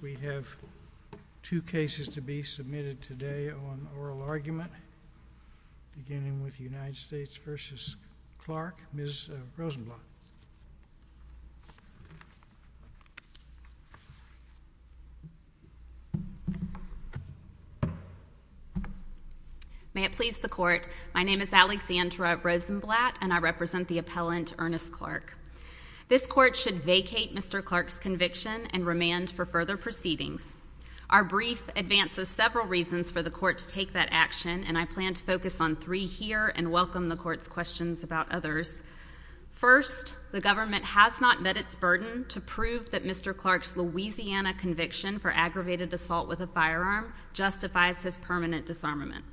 We have two cases to be submitted today on oral argument, beginning with United States v. Clark. Ms. Rosenblatt. May it please the Court, my name is Alexandra Rosenblatt, and I represent the appellant, Ernest Clark. This Court should vacate Mr. Clark's conviction and remand for further proceedings. Our brief advances several reasons for the Court to take that action, and I plan to focus on three here and welcome the Court's questions about others. First, the government has not met its burden to prove that Mr. Clark's Louisiana conviction for aggravated assault with a firearm justifies his permanent disarmament.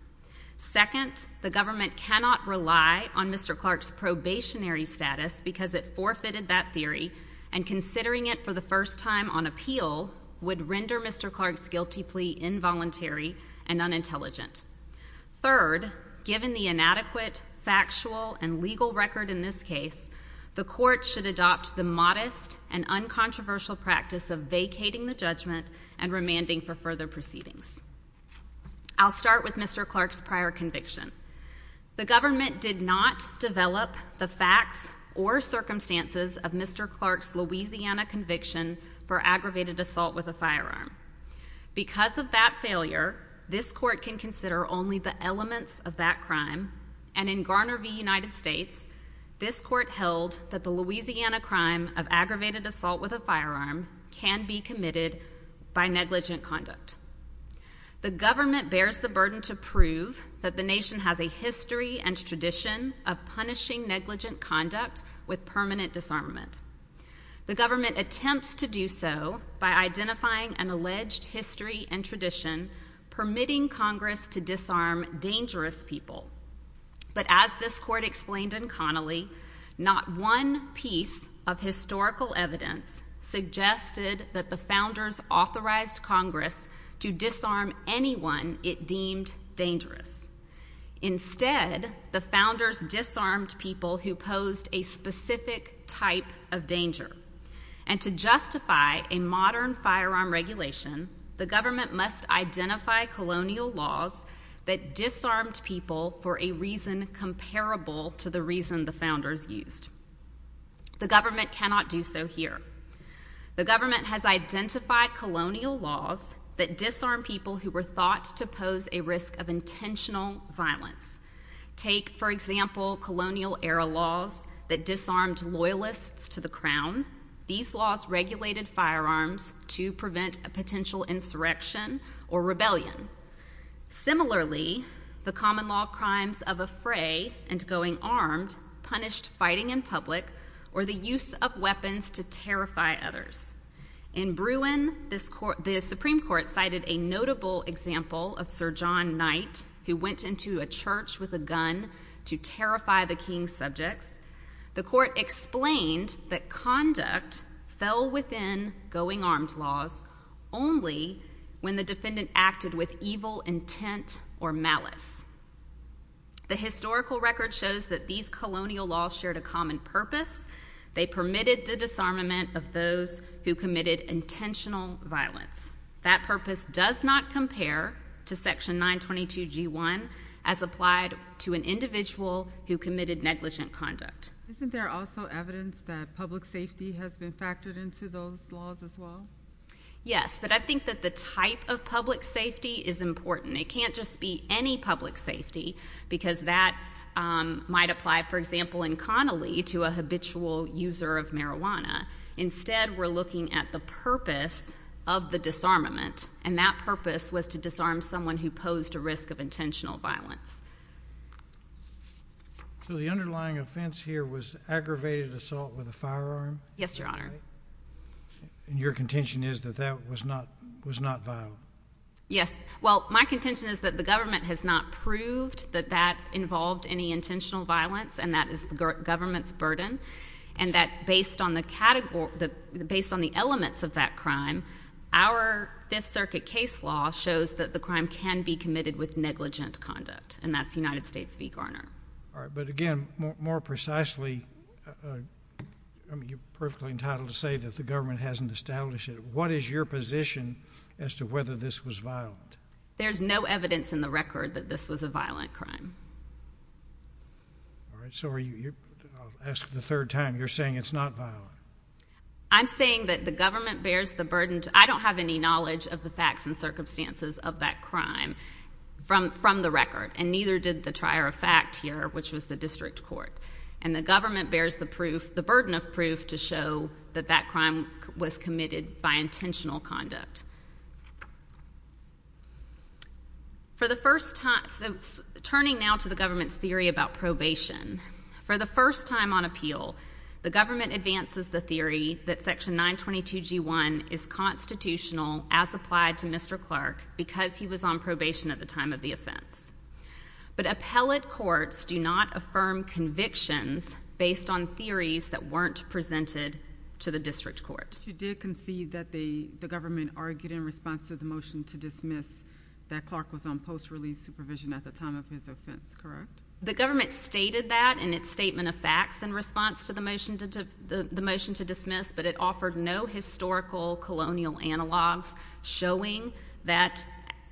Second, the government cannot rely on Mr. Clark's probationary status because it forfeited that theory, and considering it for the first time on appeal would render Mr. Clark's guilty plea involuntary and unintelligent. Third, given the inadequate factual and legal record in this case, the Court should adopt the modest and uncontroversial practice of vacating the judgment and remanding for further proceedings. I'll start with Mr. Clark's prior conviction. The government did not develop the facts or circumstances of Mr. Clark's Louisiana conviction for aggravated assault with a firearm. Because of that failure, this Court can consider only the elements of that crime, and in Garner v. United States, this Court held that the Louisiana crime of aggravated assault with a firearm can be committed by negligent conduct. The government bears the burden to prove that the nation has a history and tradition of punishing negligent conduct with permanent disarmament. The government attempts to do so by identifying an alleged history and tradition permitting Congress to disarm dangerous people. But as this Court explained in Connolly, not one piece of historical evidence suggested that the Founders authorized Congress to disarm anyone it deemed dangerous. Instead, the Founders disarmed people who posed a specific type of danger. And to justify a modern firearm regulation, the government must identify colonial laws that disarmed people for a reason comparable to the reason the Founders used. The government cannot do so here. The government has identified colonial laws that disarmed people who were thought to pose a risk of intentional violence. Take, for example, colonial era laws that disarmed loyalists to the Crown. These laws regulated firearms to prevent a potential insurrection or rebellion. Similarly, the common law crimes of affray and going armed punished fighting in public or the use of weapons to terrify others. In Bruin, the Supreme Court cited a notable example of Sir John Knight, who went into a church with a gun to terrify the king's subjects. The Court explained that conduct fell within going armed laws only when the defendant acted with evil intent or malice. The historical record shows that these colonial laws shared a common purpose. They permitted the disarmament of those who committed intentional violence. That purpose does not compare to Section 922G1 as applied to an individual who committed negligent conduct. Isn't there also evidence that public safety has been factored into those laws as well? Yes, but I think that the type of public safety is important. It can't just be any public safety because that might apply, for example, in Connolly to a habitual user of marijuana. Instead, we're looking at the purpose of the disarmament, and that purpose was to disarm someone who posed a risk of intentional violence. So the underlying offense here was aggravated assault with a firearm? Yes, Your Honor. And your contention is that that was not violent? Yes. Well, my contention is that the government has not proved that that involved any intentional violence, and that is the government's burden, and that based on the elements of that crime, our Fifth Circuit case law shows that the crime can be committed with negligent conduct, and that's United States v. Garner. All right, but again, more precisely, you're perfectly entitled to say that the government hasn't established it. What is your position as to whether this was violent? There's no evidence in the record that this was a violent crime. All right, so I'll ask the third time. You're saying it's not violent? I'm saying that the government bears the burden. I don't have any knowledge of the facts and circumstances of that crime from the record, and neither did the trier of fact here, which was the district court, and the government bears the burden of proof to show that that crime was committed by intentional conduct. So turning now to the government's theory about probation, for the first time on appeal, the government advances the theory that Section 922G1 is constitutional as applied to Mr. Clark because he was on probation at the time of the offense, but appellate courts do not affirm convictions based on theories that weren't presented to the district court. But you did concede that the government argued in response to the motion to dismiss that Clark was on post-release supervision at the time of his offense, correct? The government stated that in its statement of facts in response to the motion to dismiss, but it offered no historical colonial analogs showing that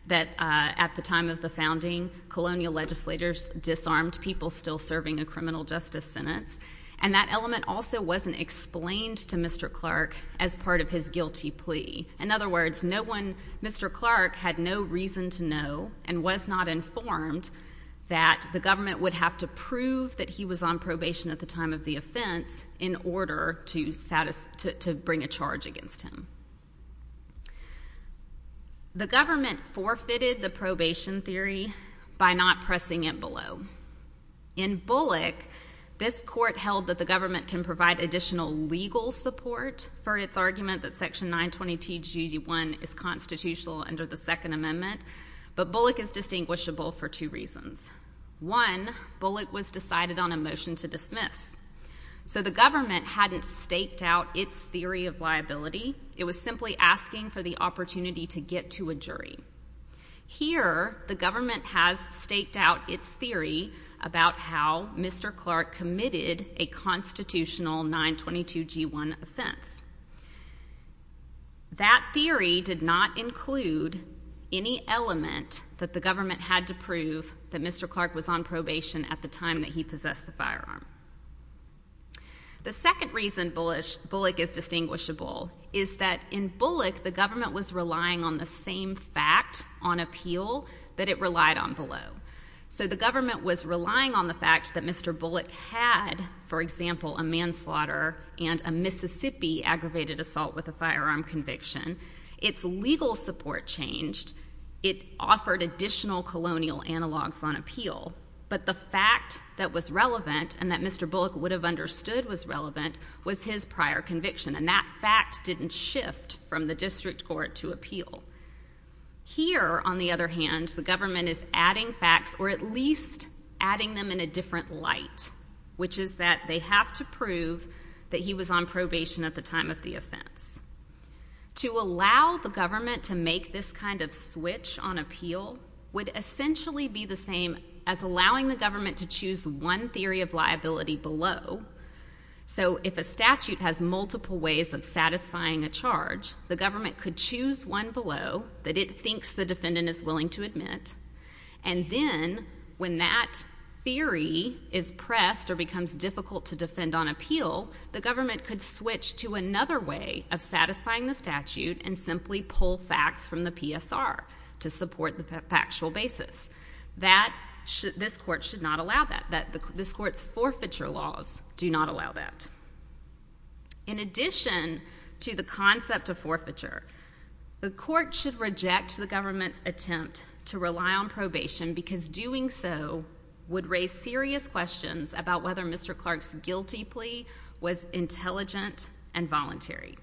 at the time of the founding, colonial legislators disarmed people still serving a criminal justice sentence, and that element also wasn't explained to Mr. Clark as part of his guilty plea. In other words, no one, Mr. Clark had no reason to know and was not informed that the government would have to prove that he was on probation at the time of the offense in order to bring a charge against him. The government forfeited the probation theory by not pressing it below. In Bullock, this court held that the government can provide additional legal support for its argument that Section 920TG1 is constitutional under the Second Amendment, but Bullock is distinguishable for two reasons. One, Bullock was decided on a motion to dismiss. So the government hadn't staked out its theory of liability. It was simply asking for the opportunity to get to a jury. Here, the government has staked out its theory about how Mr. Clark committed a constitutional 922G1 offense. That theory did not include any element that the government had to prove that Mr. Clark was on probation at the time that he possessed the firearm. The second reason Bullock is distinguishable is that in Bullock, the government was relying on the same fact on appeal that it relied on below. So the government was relying on the fact that Mr. Bullock had, for example, a manslaughter and a Mississippi aggravated assault with a firearm conviction. Its legal support changed. It offered additional colonial analogs on appeal, but the fact that was relevant and that Mr. Bullock would have understood was relevant was his prior conviction, and that fact didn't shift from the district court to appeal. Here, on the other hand, the government is adding facts, or at least adding them in a different light, which is that they have to prove that he was on probation at the time of the offense. To allow the government to make this kind of switch on appeal would essentially be the same as allowing the government to choose one theory of liability below. So if a statute has multiple ways of satisfying a charge, the government could choose one below that it thinks the defendant is willing to admit, and then when that theory is pressed or becomes difficult to defend on appeal, the government could switch to another way of satisfying the statute and simply pull facts from the PSR to support the factual basis. This court should not allow that. This court's forfeiture laws do not allow that. In addition to the concept of forfeiture, the court should reject the government's attempt to rely on probation because doing so would raise serious questions about whether Mr. Clark's guilty plea was intelligent and voluntary.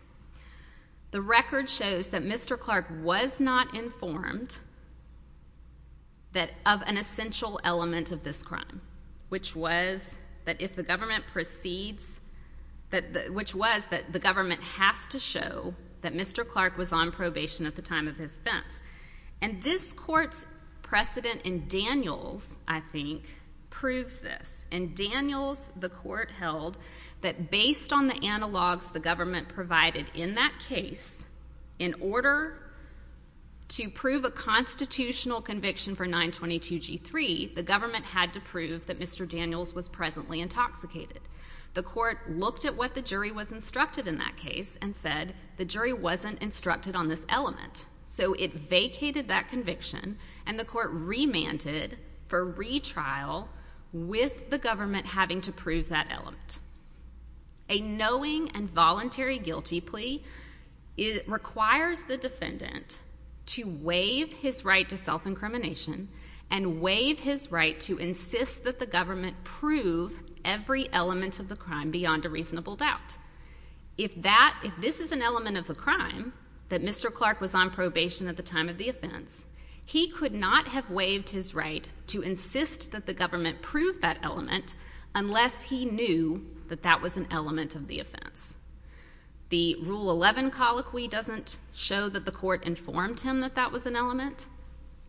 The record shows that Mr. Clark was not informed of an essential element of this crime, which was that the government has to show that Mr. Clark was on probation at the time of his offense. And this court's precedent in Daniels, I think, proves this. In Daniels, the court held that based on the analogs the government provided in that case, in order to prove a constitutional conviction for 922G3, the government had to prove that Mr. Daniels was presently intoxicated. The court looked at what the jury was instructed in that case and said the jury wasn't instructed on this element. So it vacated that conviction, and the court remanded for retrial with the government having to prove that element. A knowing and voluntary guilty plea requires the defendant to waive his right to self-incrimination and waive his right to insist that the government prove every element of the crime beyond a reasonable doubt. If this is an element of the crime, that Mr. Clark was on probation at the time of the offense, he could not have waived his right to insist that the government prove that element unless he knew that that was an element of the offense. The Rule 11 colloquy doesn't show that the court informed him that that was an element.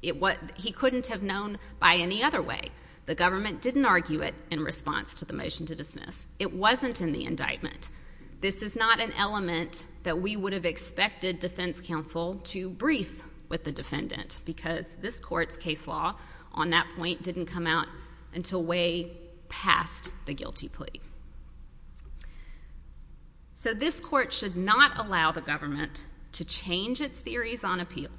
He couldn't have known by any other way. The government didn't argue it in response to the motion to dismiss. It wasn't in the indictment. This is not an element that we would have expected defense counsel to brief with the defendant because this court's case law on that point didn't come out until way past the guilty plea. So this court should not allow the government to change its theories on appeal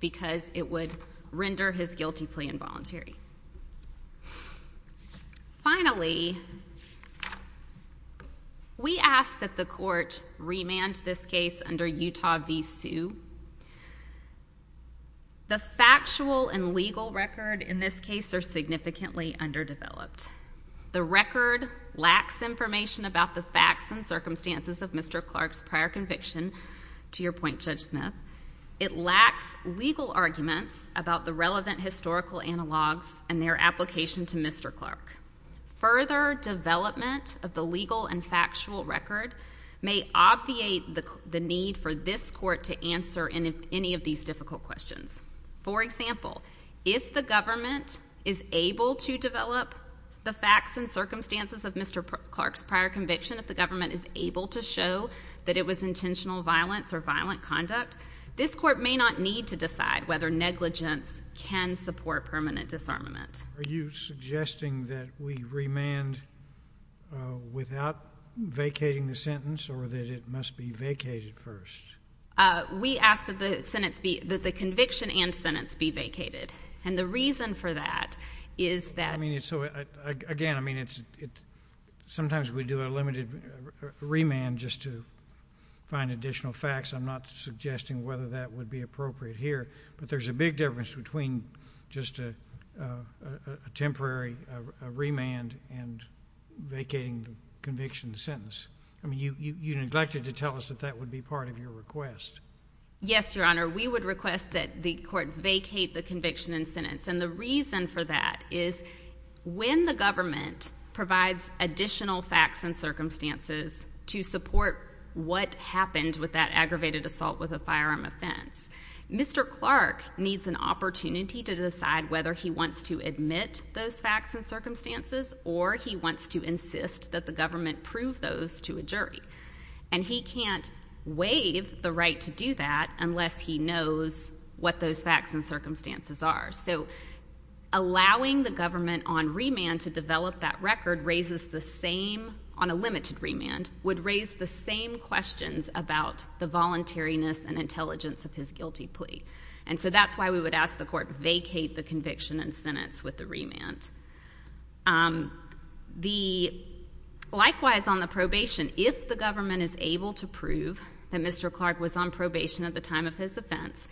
because it would render his guilty plea involuntary. Finally, we ask that the court remand this case under Utah v. Sue. The factual and legal record in this case are significantly underdeveloped. The record lacks information about the facts and circumstances of Mr. Clark's prior conviction, to your point, Judge Smith. It lacks legal arguments about the relevant historical analogs and their application to Mr. Clark. Further development of the legal and factual record may obviate the need for this court to answer any of these difficult questions. For example, if the government is able to develop the facts and circumstances of Mr. Clark's prior conviction, if the government is able to show that it was intentional violence or violent conduct, this court may not need to decide whether negligence can support permanent disarmament. Are you suggesting that we remand without vacating the sentence or that it must be vacated first? We ask that the conviction and sentence be vacated. And the reason for that is that— Again, sometimes we do a limited remand just to find additional facts. I'm not suggesting whether that would be appropriate here. But there's a big difference between just a temporary remand and vacating the conviction and sentence. You neglected to tell us that that would be part of your request. Yes, Your Honor. We would request that the court vacate the conviction and sentence. And the reason for that is when the government provides additional facts and circumstances to support what happened with that aggravated assault with a firearm offense, Mr. Clark needs an opportunity to decide whether he wants to admit those facts and circumstances or he wants to insist that the government prove those to a jury. And he can't waive the right to do that unless he knows what those facts and circumstances are. So allowing the government on remand to develop that record on a limited remand would raise the same questions about the voluntariness and intelligence of his guilty plea. And so that's why we would ask the court vacate the conviction and sentence with the remand. Likewise, on the probation, if the government is able to prove that Mr. Clark was on probation at the time of his offense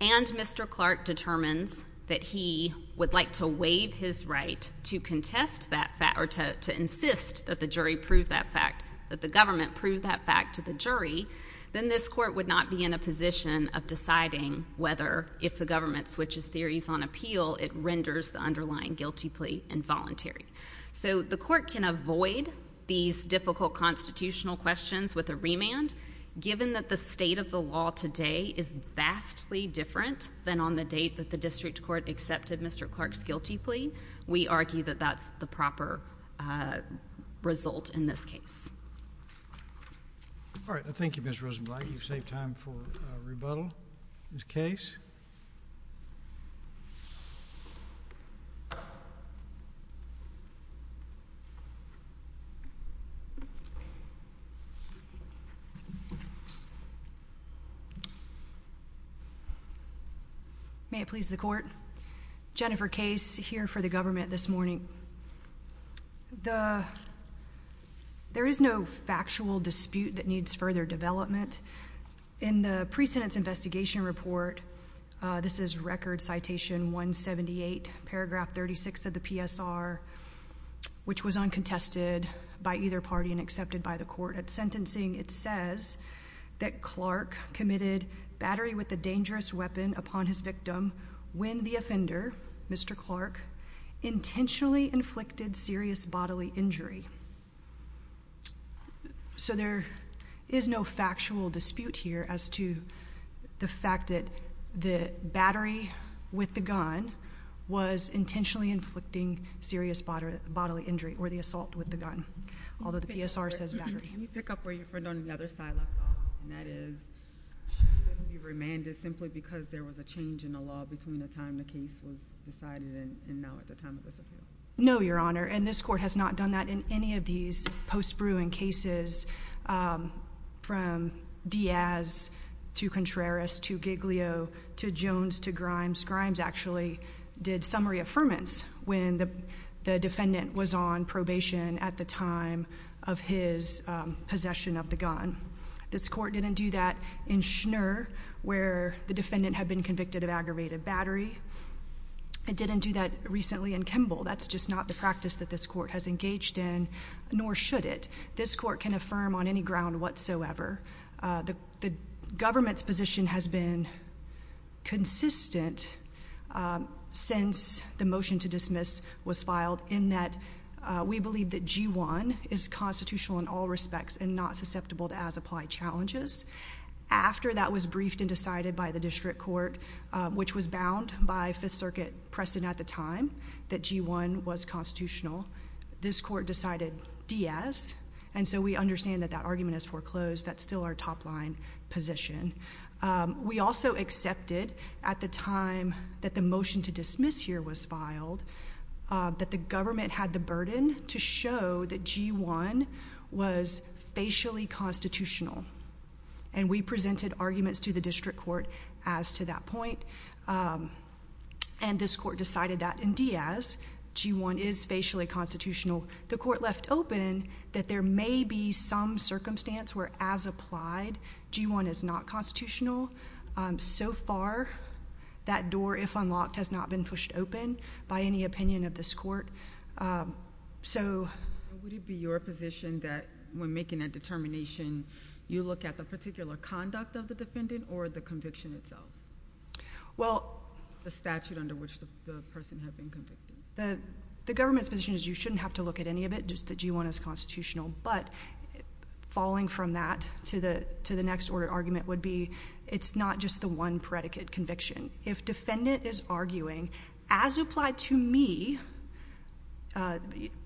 and Mr. Clark determines that he would like to waive his right to contest that fact or to insist that the jury prove that fact, that the government prove that fact to the jury, then this court would not be in a position of deciding whether if the government switches theories on appeal it renders the underlying guilty plea involuntary. So the court can avoid these difficult constitutional questions with a remand given that the state of the law today is vastly different than on the date that the district court accepted Mr. Clark's guilty plea, we argue that that's the proper result in this case. All right. Thank you, Ms. Rosenblatt. You've saved time for rebuttal. Ms. Case. May it please the court. Jennifer Case here for the government this morning. There is no factual dispute that needs further development. In the precedence investigation report, this is record citation 178, paragraph 36 of the PSR, which was uncontested by either party and accepted by the court at sentencing, it says that Clark committed battery with a dangerous weapon upon his victim when the offender, Mr. Clark, intentionally inflicted serious bodily injury. So there is no factual dispute here as to the fact that the battery with the gun was intentionally inflicting serious bodily injury or the assault with the gun, although the PSR says battery. Can you pick up where your friend on the other side left off? And that is she was being remanded simply because there was a change in the law between the time the case was decided and now at the time of this appeal. No, Your Honor, and this court has not done that in any of these post-Bruin cases from Diaz to Contreras to Giglio to Jones to Grimes. Grimes actually did summary affirmance when the defendant was on probation at the time of his possession of the gun. This court didn't do that in Schnur, where the defendant had been convicted of aggravated battery. It didn't do that recently in Kimball. That's just not the practice that this court has engaged in, nor should it. This court can affirm on any ground whatsoever. The government's position has been consistent since the motion to dismiss was filed in that we believe that G-1 is constitutional in all respects and not susceptible to as-applied challenges. After that was briefed and decided by the district court, which was bound by Fifth Circuit precedent at the time that G-1 was constitutional, this court decided Diaz, and so we understand that that argument is foreclosed. That's still our top-line position. We also accepted at the time that the motion to dismiss here was filed that the government had the burden to show that G-1 was facially constitutional, and we presented arguments to the district court as to that point, and this court decided that in Diaz, G-1 is facially constitutional. The court left open that there may be some circumstance where as-applied, G-1 is not constitutional. So far, that door, if unlocked, has not been pushed open by any opinion of this court. Would it be your position that when making a determination, you look at the particular conduct of the defendant or the conviction itself? Well... The statute under which the person had been convicted. The government's position is you shouldn't have to look at any of it, just that G-1 is constitutional, but falling from that to the next order of argument would be it's not just the one predicate conviction. If defendant is arguing as-applied to me, a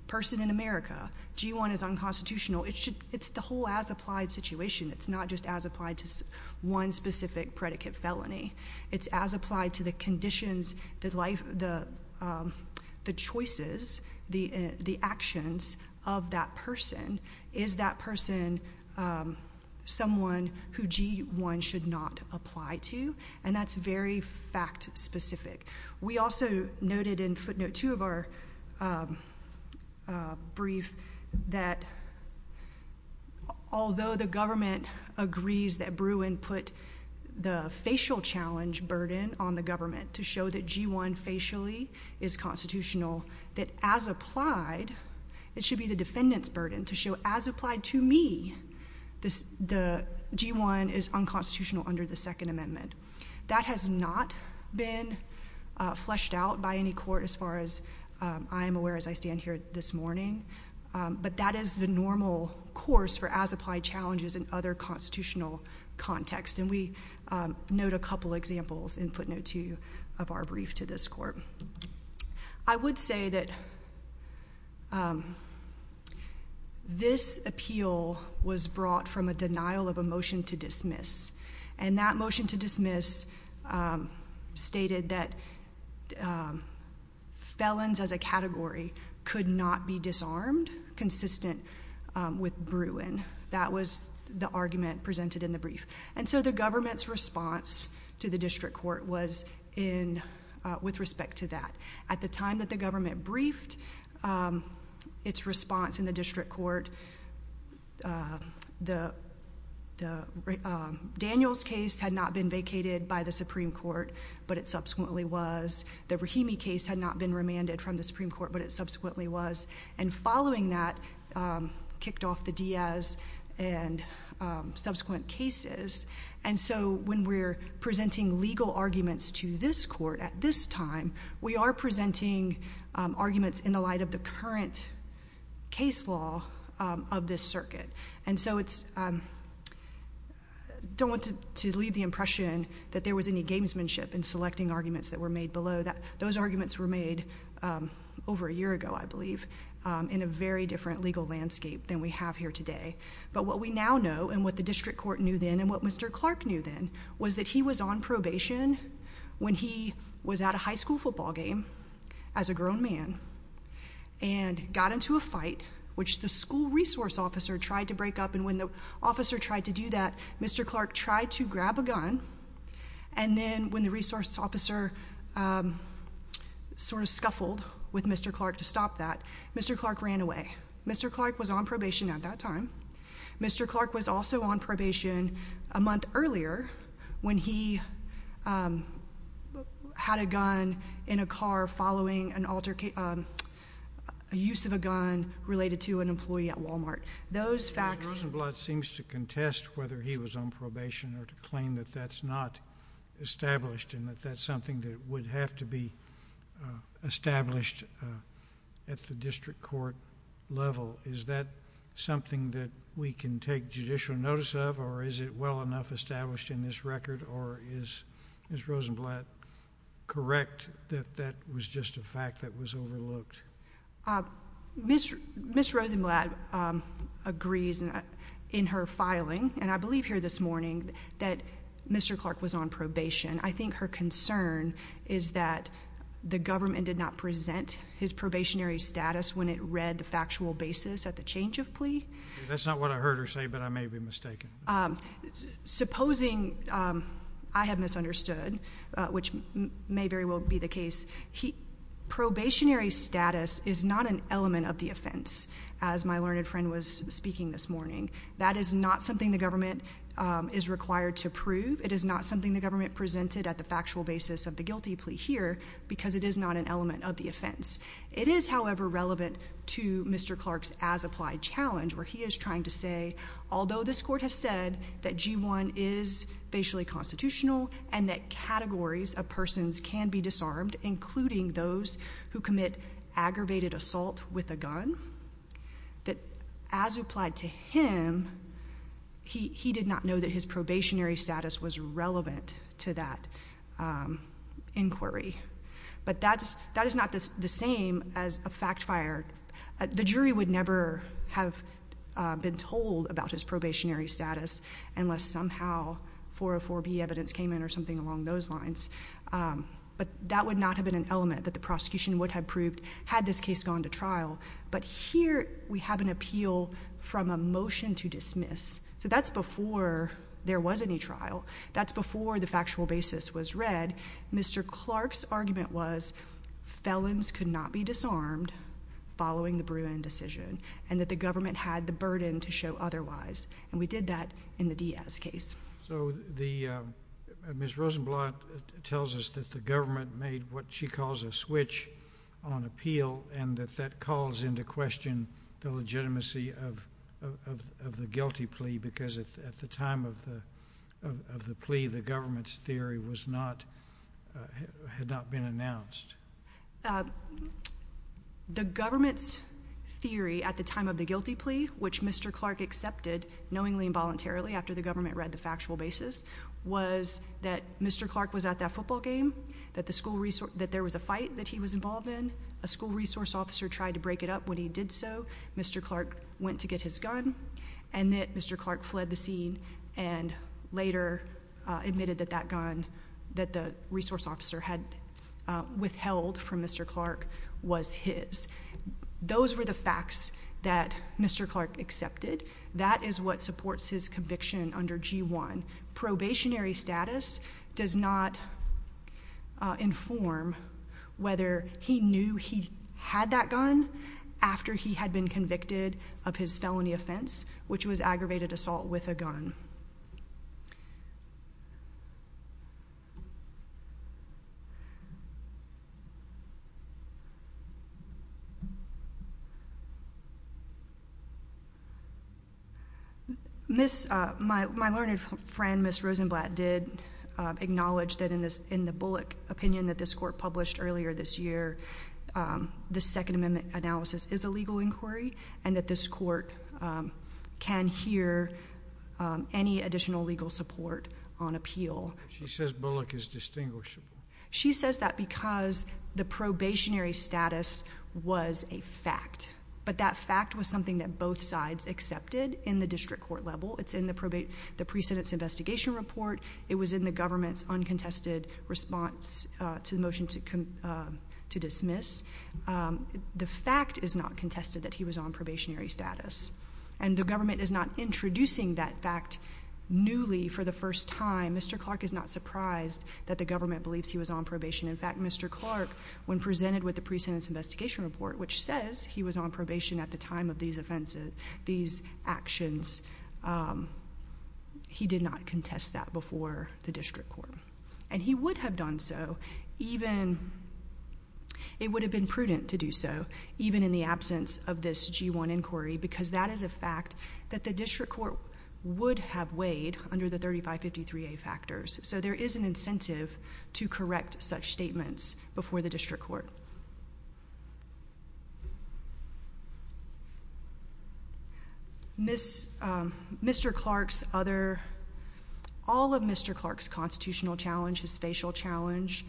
person in America, G-1 is unconstitutional, it's the whole as-applied situation. It's not just as-applied to one specific predicate felony. It's as-applied to the conditions, the choices, the actions of that person. Is that person someone who G-1 should not apply to? And that's very fact-specific. We also noted in footnote 2 of our brief that although the government agrees that Bruin put the facial challenge burden on the government to show that G-1 facially is constitutional, that as-applied, it should be the defendant's burden to show as-applied to me, G-1 is unconstitutional under the Second Amendment. That has not been fleshed out by any court as far as I am aware as I stand here this morning, but that is the normal course for as-applied challenges in other constitutional contexts, and we note a couple examples in footnote 2 of our brief to this court. I would say that this appeal was brought from a denial of a motion to dismiss, and that motion to dismiss stated that felons as a category could not be disarmed consistent with Bruin. That was the argument presented in the brief. And so the government's response to the district court was with respect to that. At the time that the government briefed its response in the district court, Daniel's case had not been vacated by the Supreme Court, but it subsequently was. The Rahimi case had not been remanded from the Supreme Court, but it subsequently was. And following that kicked off the Diaz and subsequent cases. And so when we're presenting legal arguments to this court at this time, we are presenting arguments in the light of the current case law of this circuit. And so I don't want to leave the impression that there was any gamesmanship in selecting arguments that were made below. Those arguments were made over a year ago, I believe, in a very different legal landscape than we have here today. But what we now know, and what the district court knew then, and what Mr. Clark knew then, was that he was on probation when he was at a high school football game as a grown man and got into a fight which the school resource officer tried to break up. And when the officer tried to do that, Mr. Clark tried to grab a gun. And then when the resource officer sort of scuffled with Mr. Clark to stop that, Mr. Clark ran away. Mr. Clark was on probation at that time. Mr. Clark was also on probation a month earlier when he had a gun in a car following an altercation, a use of a gun related to an employee at Walmart. Those facts... Mr. Rosenblatt seems to contest whether he was on probation or to claim that that's not established and that that's something that would have to be established at the district court level. Is that something that we can take judicial notice of, or is it well enough established in this record? Or is Ms. Rosenblatt correct that that was just a fact that was overlooked? Ms. Rosenblatt agrees in her filing, and I believe here this morning, that Mr. Clark was on probation. I think her concern is that the government did not present his probationary status when it read the factual basis at the change of plea. That's not what I heard her say, but I may be mistaken. Supposing I have misunderstood, which may very well be the case, probationary status is not an element of the offense, as my learned friend was speaking this morning. That is not something the government is required to prove. It is not something the government presented at the factual basis of the guilty plea here because it is not an element of the offense. It is, however, relevant to Mr. Clark's as-applied challenge, where he is trying to say, although this court has said that G1 is facially constitutional and that categories of persons can be disarmed, including those who commit aggravated assault with a gun, that as applied to him, he did not know that his probationary status was relevant to that inquiry. But that is not the same as a fact fire. The jury would never have been told about his probationary status unless somehow 404B evidence came in or something along those lines. But that would not have been an element that the prosecution would have proved had this case gone to trial. But here we have an appeal from a motion to dismiss. So that's before there was any trial. That's before the factual basis was read. Mr. Clark's argument was felons could not be disarmed following the Bruin decision and that the government had the burden to show otherwise. And we did that in the Diaz case. So Ms. Rosenblatt tells us that the government made what she calls a switch on appeal and that that calls into question the legitimacy of the guilty plea because at the time of the plea, the government's theory had not been announced. The government's theory at the time of the guilty plea, which Mr. Clark accepted knowingly and voluntarily after the government read the factual basis, was that Mr. Clark was at that football game, that there was a fight that he was involved in, a school resource officer tried to break it up when he did so. Mr. Clark went to get his gun and that Mr. Clark fled the scene and later admitted that that gun that the resource officer had withheld from Mr. Clark was his. Those were the facts that Mr. Clark accepted. That is what supports his conviction under G-1. Probationary status does not inform whether he knew he had that gun after he had been convicted of his felony offense, which was aggravated assault with a gun. My learned friend, Ms. Rosenblatt, did acknowledge that in the Bullock opinion that this court published earlier this year, the Second Amendment analysis is a legal inquiry and that this court can hear any additional legal support on appeal. She says Bullock is distinguishable. She says that because the probationary status was a fact, but that fact was something that both sides accepted in the district court level. It's in the precedence investigation report. It was in the government's uncontested response to the motion to dismiss. The fact is not contested that he was on probationary status, and the government is not introducing that fact newly for the first time. Mr. Clark is not surprised that the government believes he was on probation. In fact, Mr. Clark, when presented with the precedence investigation report, which says he was on probation at the time of these actions, he did not contest that before the district court. And he would have done so, even it would have been prudent to do so, even in the absence of this G-1 inquiry, because that is a fact that the district court would have weighed under the 3553A factors. So there is an incentive to correct such statements before the district court. Mr. Clark's other – all of Mr. Clark's constitutional challenge, his spatial challenge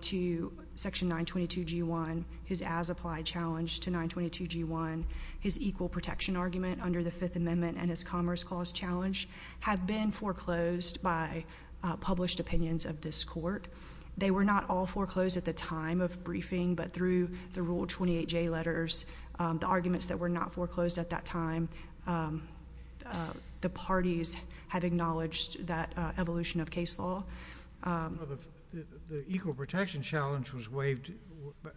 to Section 922G1, his as-applied challenge to 922G1, his equal protection argument under the Fifth Amendment, and his Commerce Clause challenge have been foreclosed by published opinions of this court. They were not all foreclosed at the time of briefing, but through the Rule 28J letters, the arguments that were not foreclosed at that time, the parties had acknowledged that evolution of case law. The equal protection challenge was waived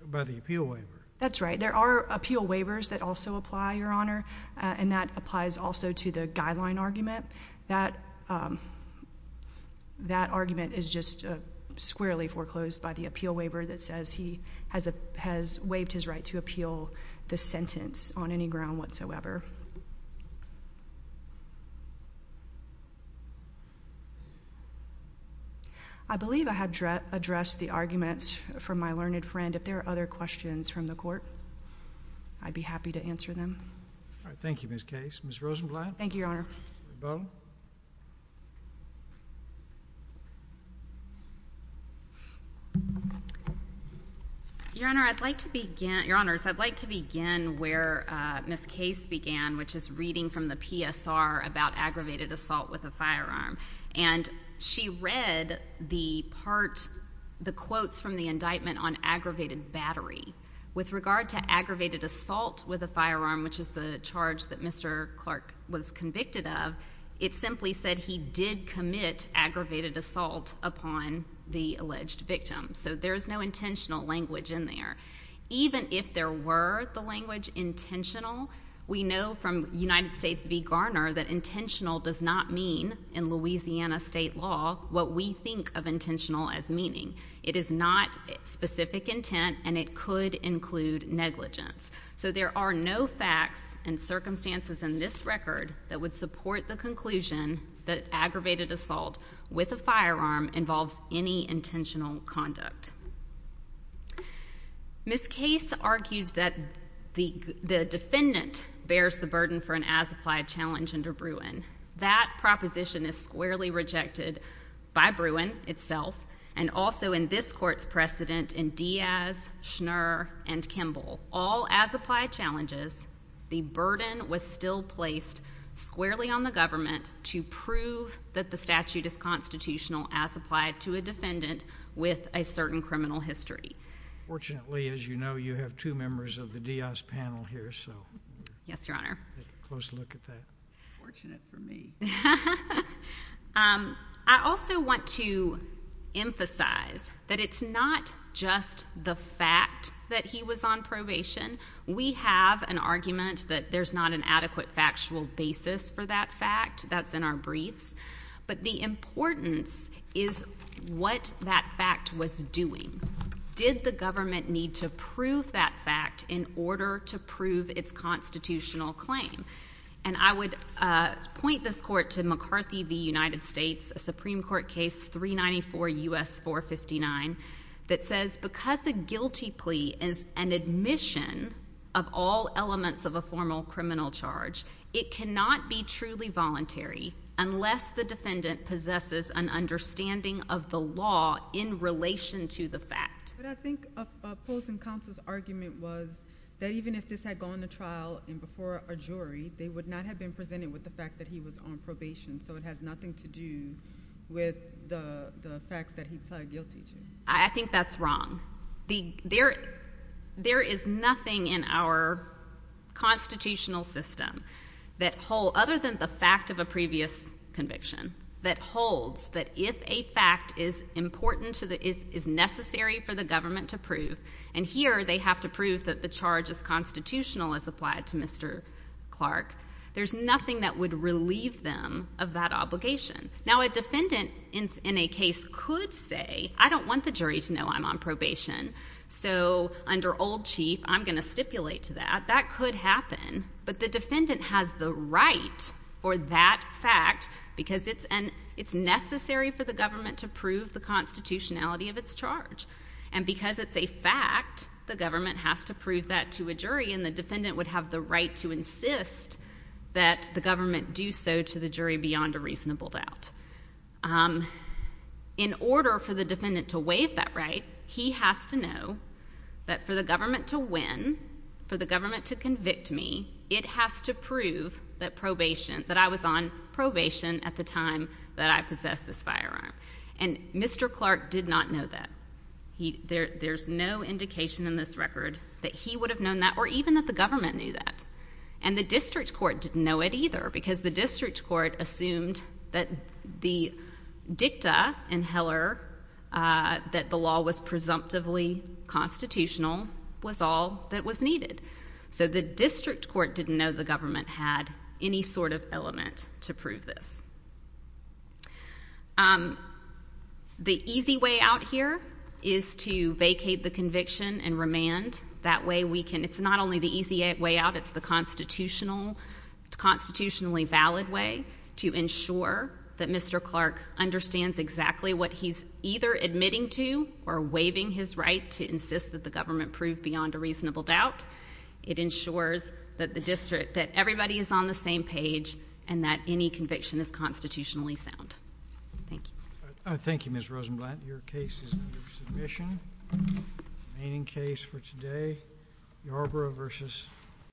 by the appeal waiver. That's right. There are appeal waivers that also apply, Your Honor, and that applies also to the guideline argument. That argument is just squarely foreclosed by the appeal waiver that says he has waived his right to appeal the sentence on any ground whatsoever. I believe I have addressed the arguments from my learned friend. If there are other questions from the court, I'd be happy to answer them. All right. Thank you, Ms. Case. Ms. Rosenblatt. Thank you, Your Honor. Ms. Bowman. Your Honor, I'd like to begin where Ms. Case began, which is reading from the PSR about aggravated assault with a firearm. And she read the part, the quotes from the indictment on aggravated battery. With regard to aggravated assault with a firearm, which is the charge that Mr. Clark was convicted of, it simply said he did commit aggravated assault upon the alleged victim. So there is no intentional language in there. Even if there were the language intentional, we know from United States v. Garner that intentional does not mean, in Louisiana state law, what we think of intentional as meaning. It is not specific intent, and it could include negligence. So there are no facts and circumstances in this record that would support the conclusion that aggravated assault with a firearm involves any intentional conduct. Ms. Case argued that the defendant bears the burden for an as-applied challenge under Bruin. That proposition is squarely rejected by Bruin itself and also in this court's precedent in Diaz, Schnur, and Kimball. All as-applied challenges. The burden was still placed squarely on the government to prove that the statute is constitutional as applied to a defendant with a certain criminal history. Fortunately, as you know, you have two members of the Diaz panel here. Yes, Your Honor. Take a close look at that. Fortunate for me. I also want to emphasize that it's not just the fact that he was on probation. We have an argument that there's not an adequate factual basis for that fact. That's in our briefs. But the importance is what that fact was doing. Did the government need to prove that fact in order to prove its constitutional claim? And I would point this court to McCarthy v. United States, a Supreme Court case, 394 U.S. 459, that says because a guilty plea is an admission of all elements of a formal criminal charge, it cannot be truly voluntary unless the defendant possesses an understanding of the law in relation to the fact. But I think opposing counsel's argument was that even if this had gone to trial and before a jury, they would not have been presented with the fact that he was on probation. So it has nothing to do with the facts that he pled guilty to. I think that's wrong. There is nothing in our constitutional system other than the fact of a previous conviction that holds that if a fact is necessary for the government to prove, and here they have to prove that the charge is constitutional as applied to Mr. Clark, there's nothing that would relieve them of that obligation. Now, a defendant in a case could say, I don't want the jury to know I'm on probation, so under old chief, I'm going to stipulate to that. That could happen. But the defendant has the right for that fact because it's necessary for the government to prove the constitutionality of its charge. And because it's a fact, the government has to prove that to a jury, and the defendant would have the right to insist that the government do so to the jury beyond a reasonable doubt. In order for the defendant to waive that right, he has to know that for the government to win, for the government to convict me, it has to prove that probation, that I was on probation at the time that I possessed this firearm. And Mr. Clark did not know that. There's no indication in this record that he would have known that or even that the government knew that. And the district court didn't know it either because the district court assumed that the dicta in Heller that the law was presumptively constitutional was all that was needed. So the district court didn't know the government had any sort of element to prove this. The easy way out here is to vacate the conviction and remand. That way we can, it's not only the easy way out, it's the constitutional, constitutionally valid way to ensure that Mr. Clark understands exactly what he's either admitting to or waiving his right to insist that the government prove beyond a reasonable doubt. It ensures that the district, that everybody is on the same page and that any conviction is constitutionally sound. Thank you. Thank you, Ms. Rosenblatt. Your case is under submission. Remaining case for today, Yarbrough v.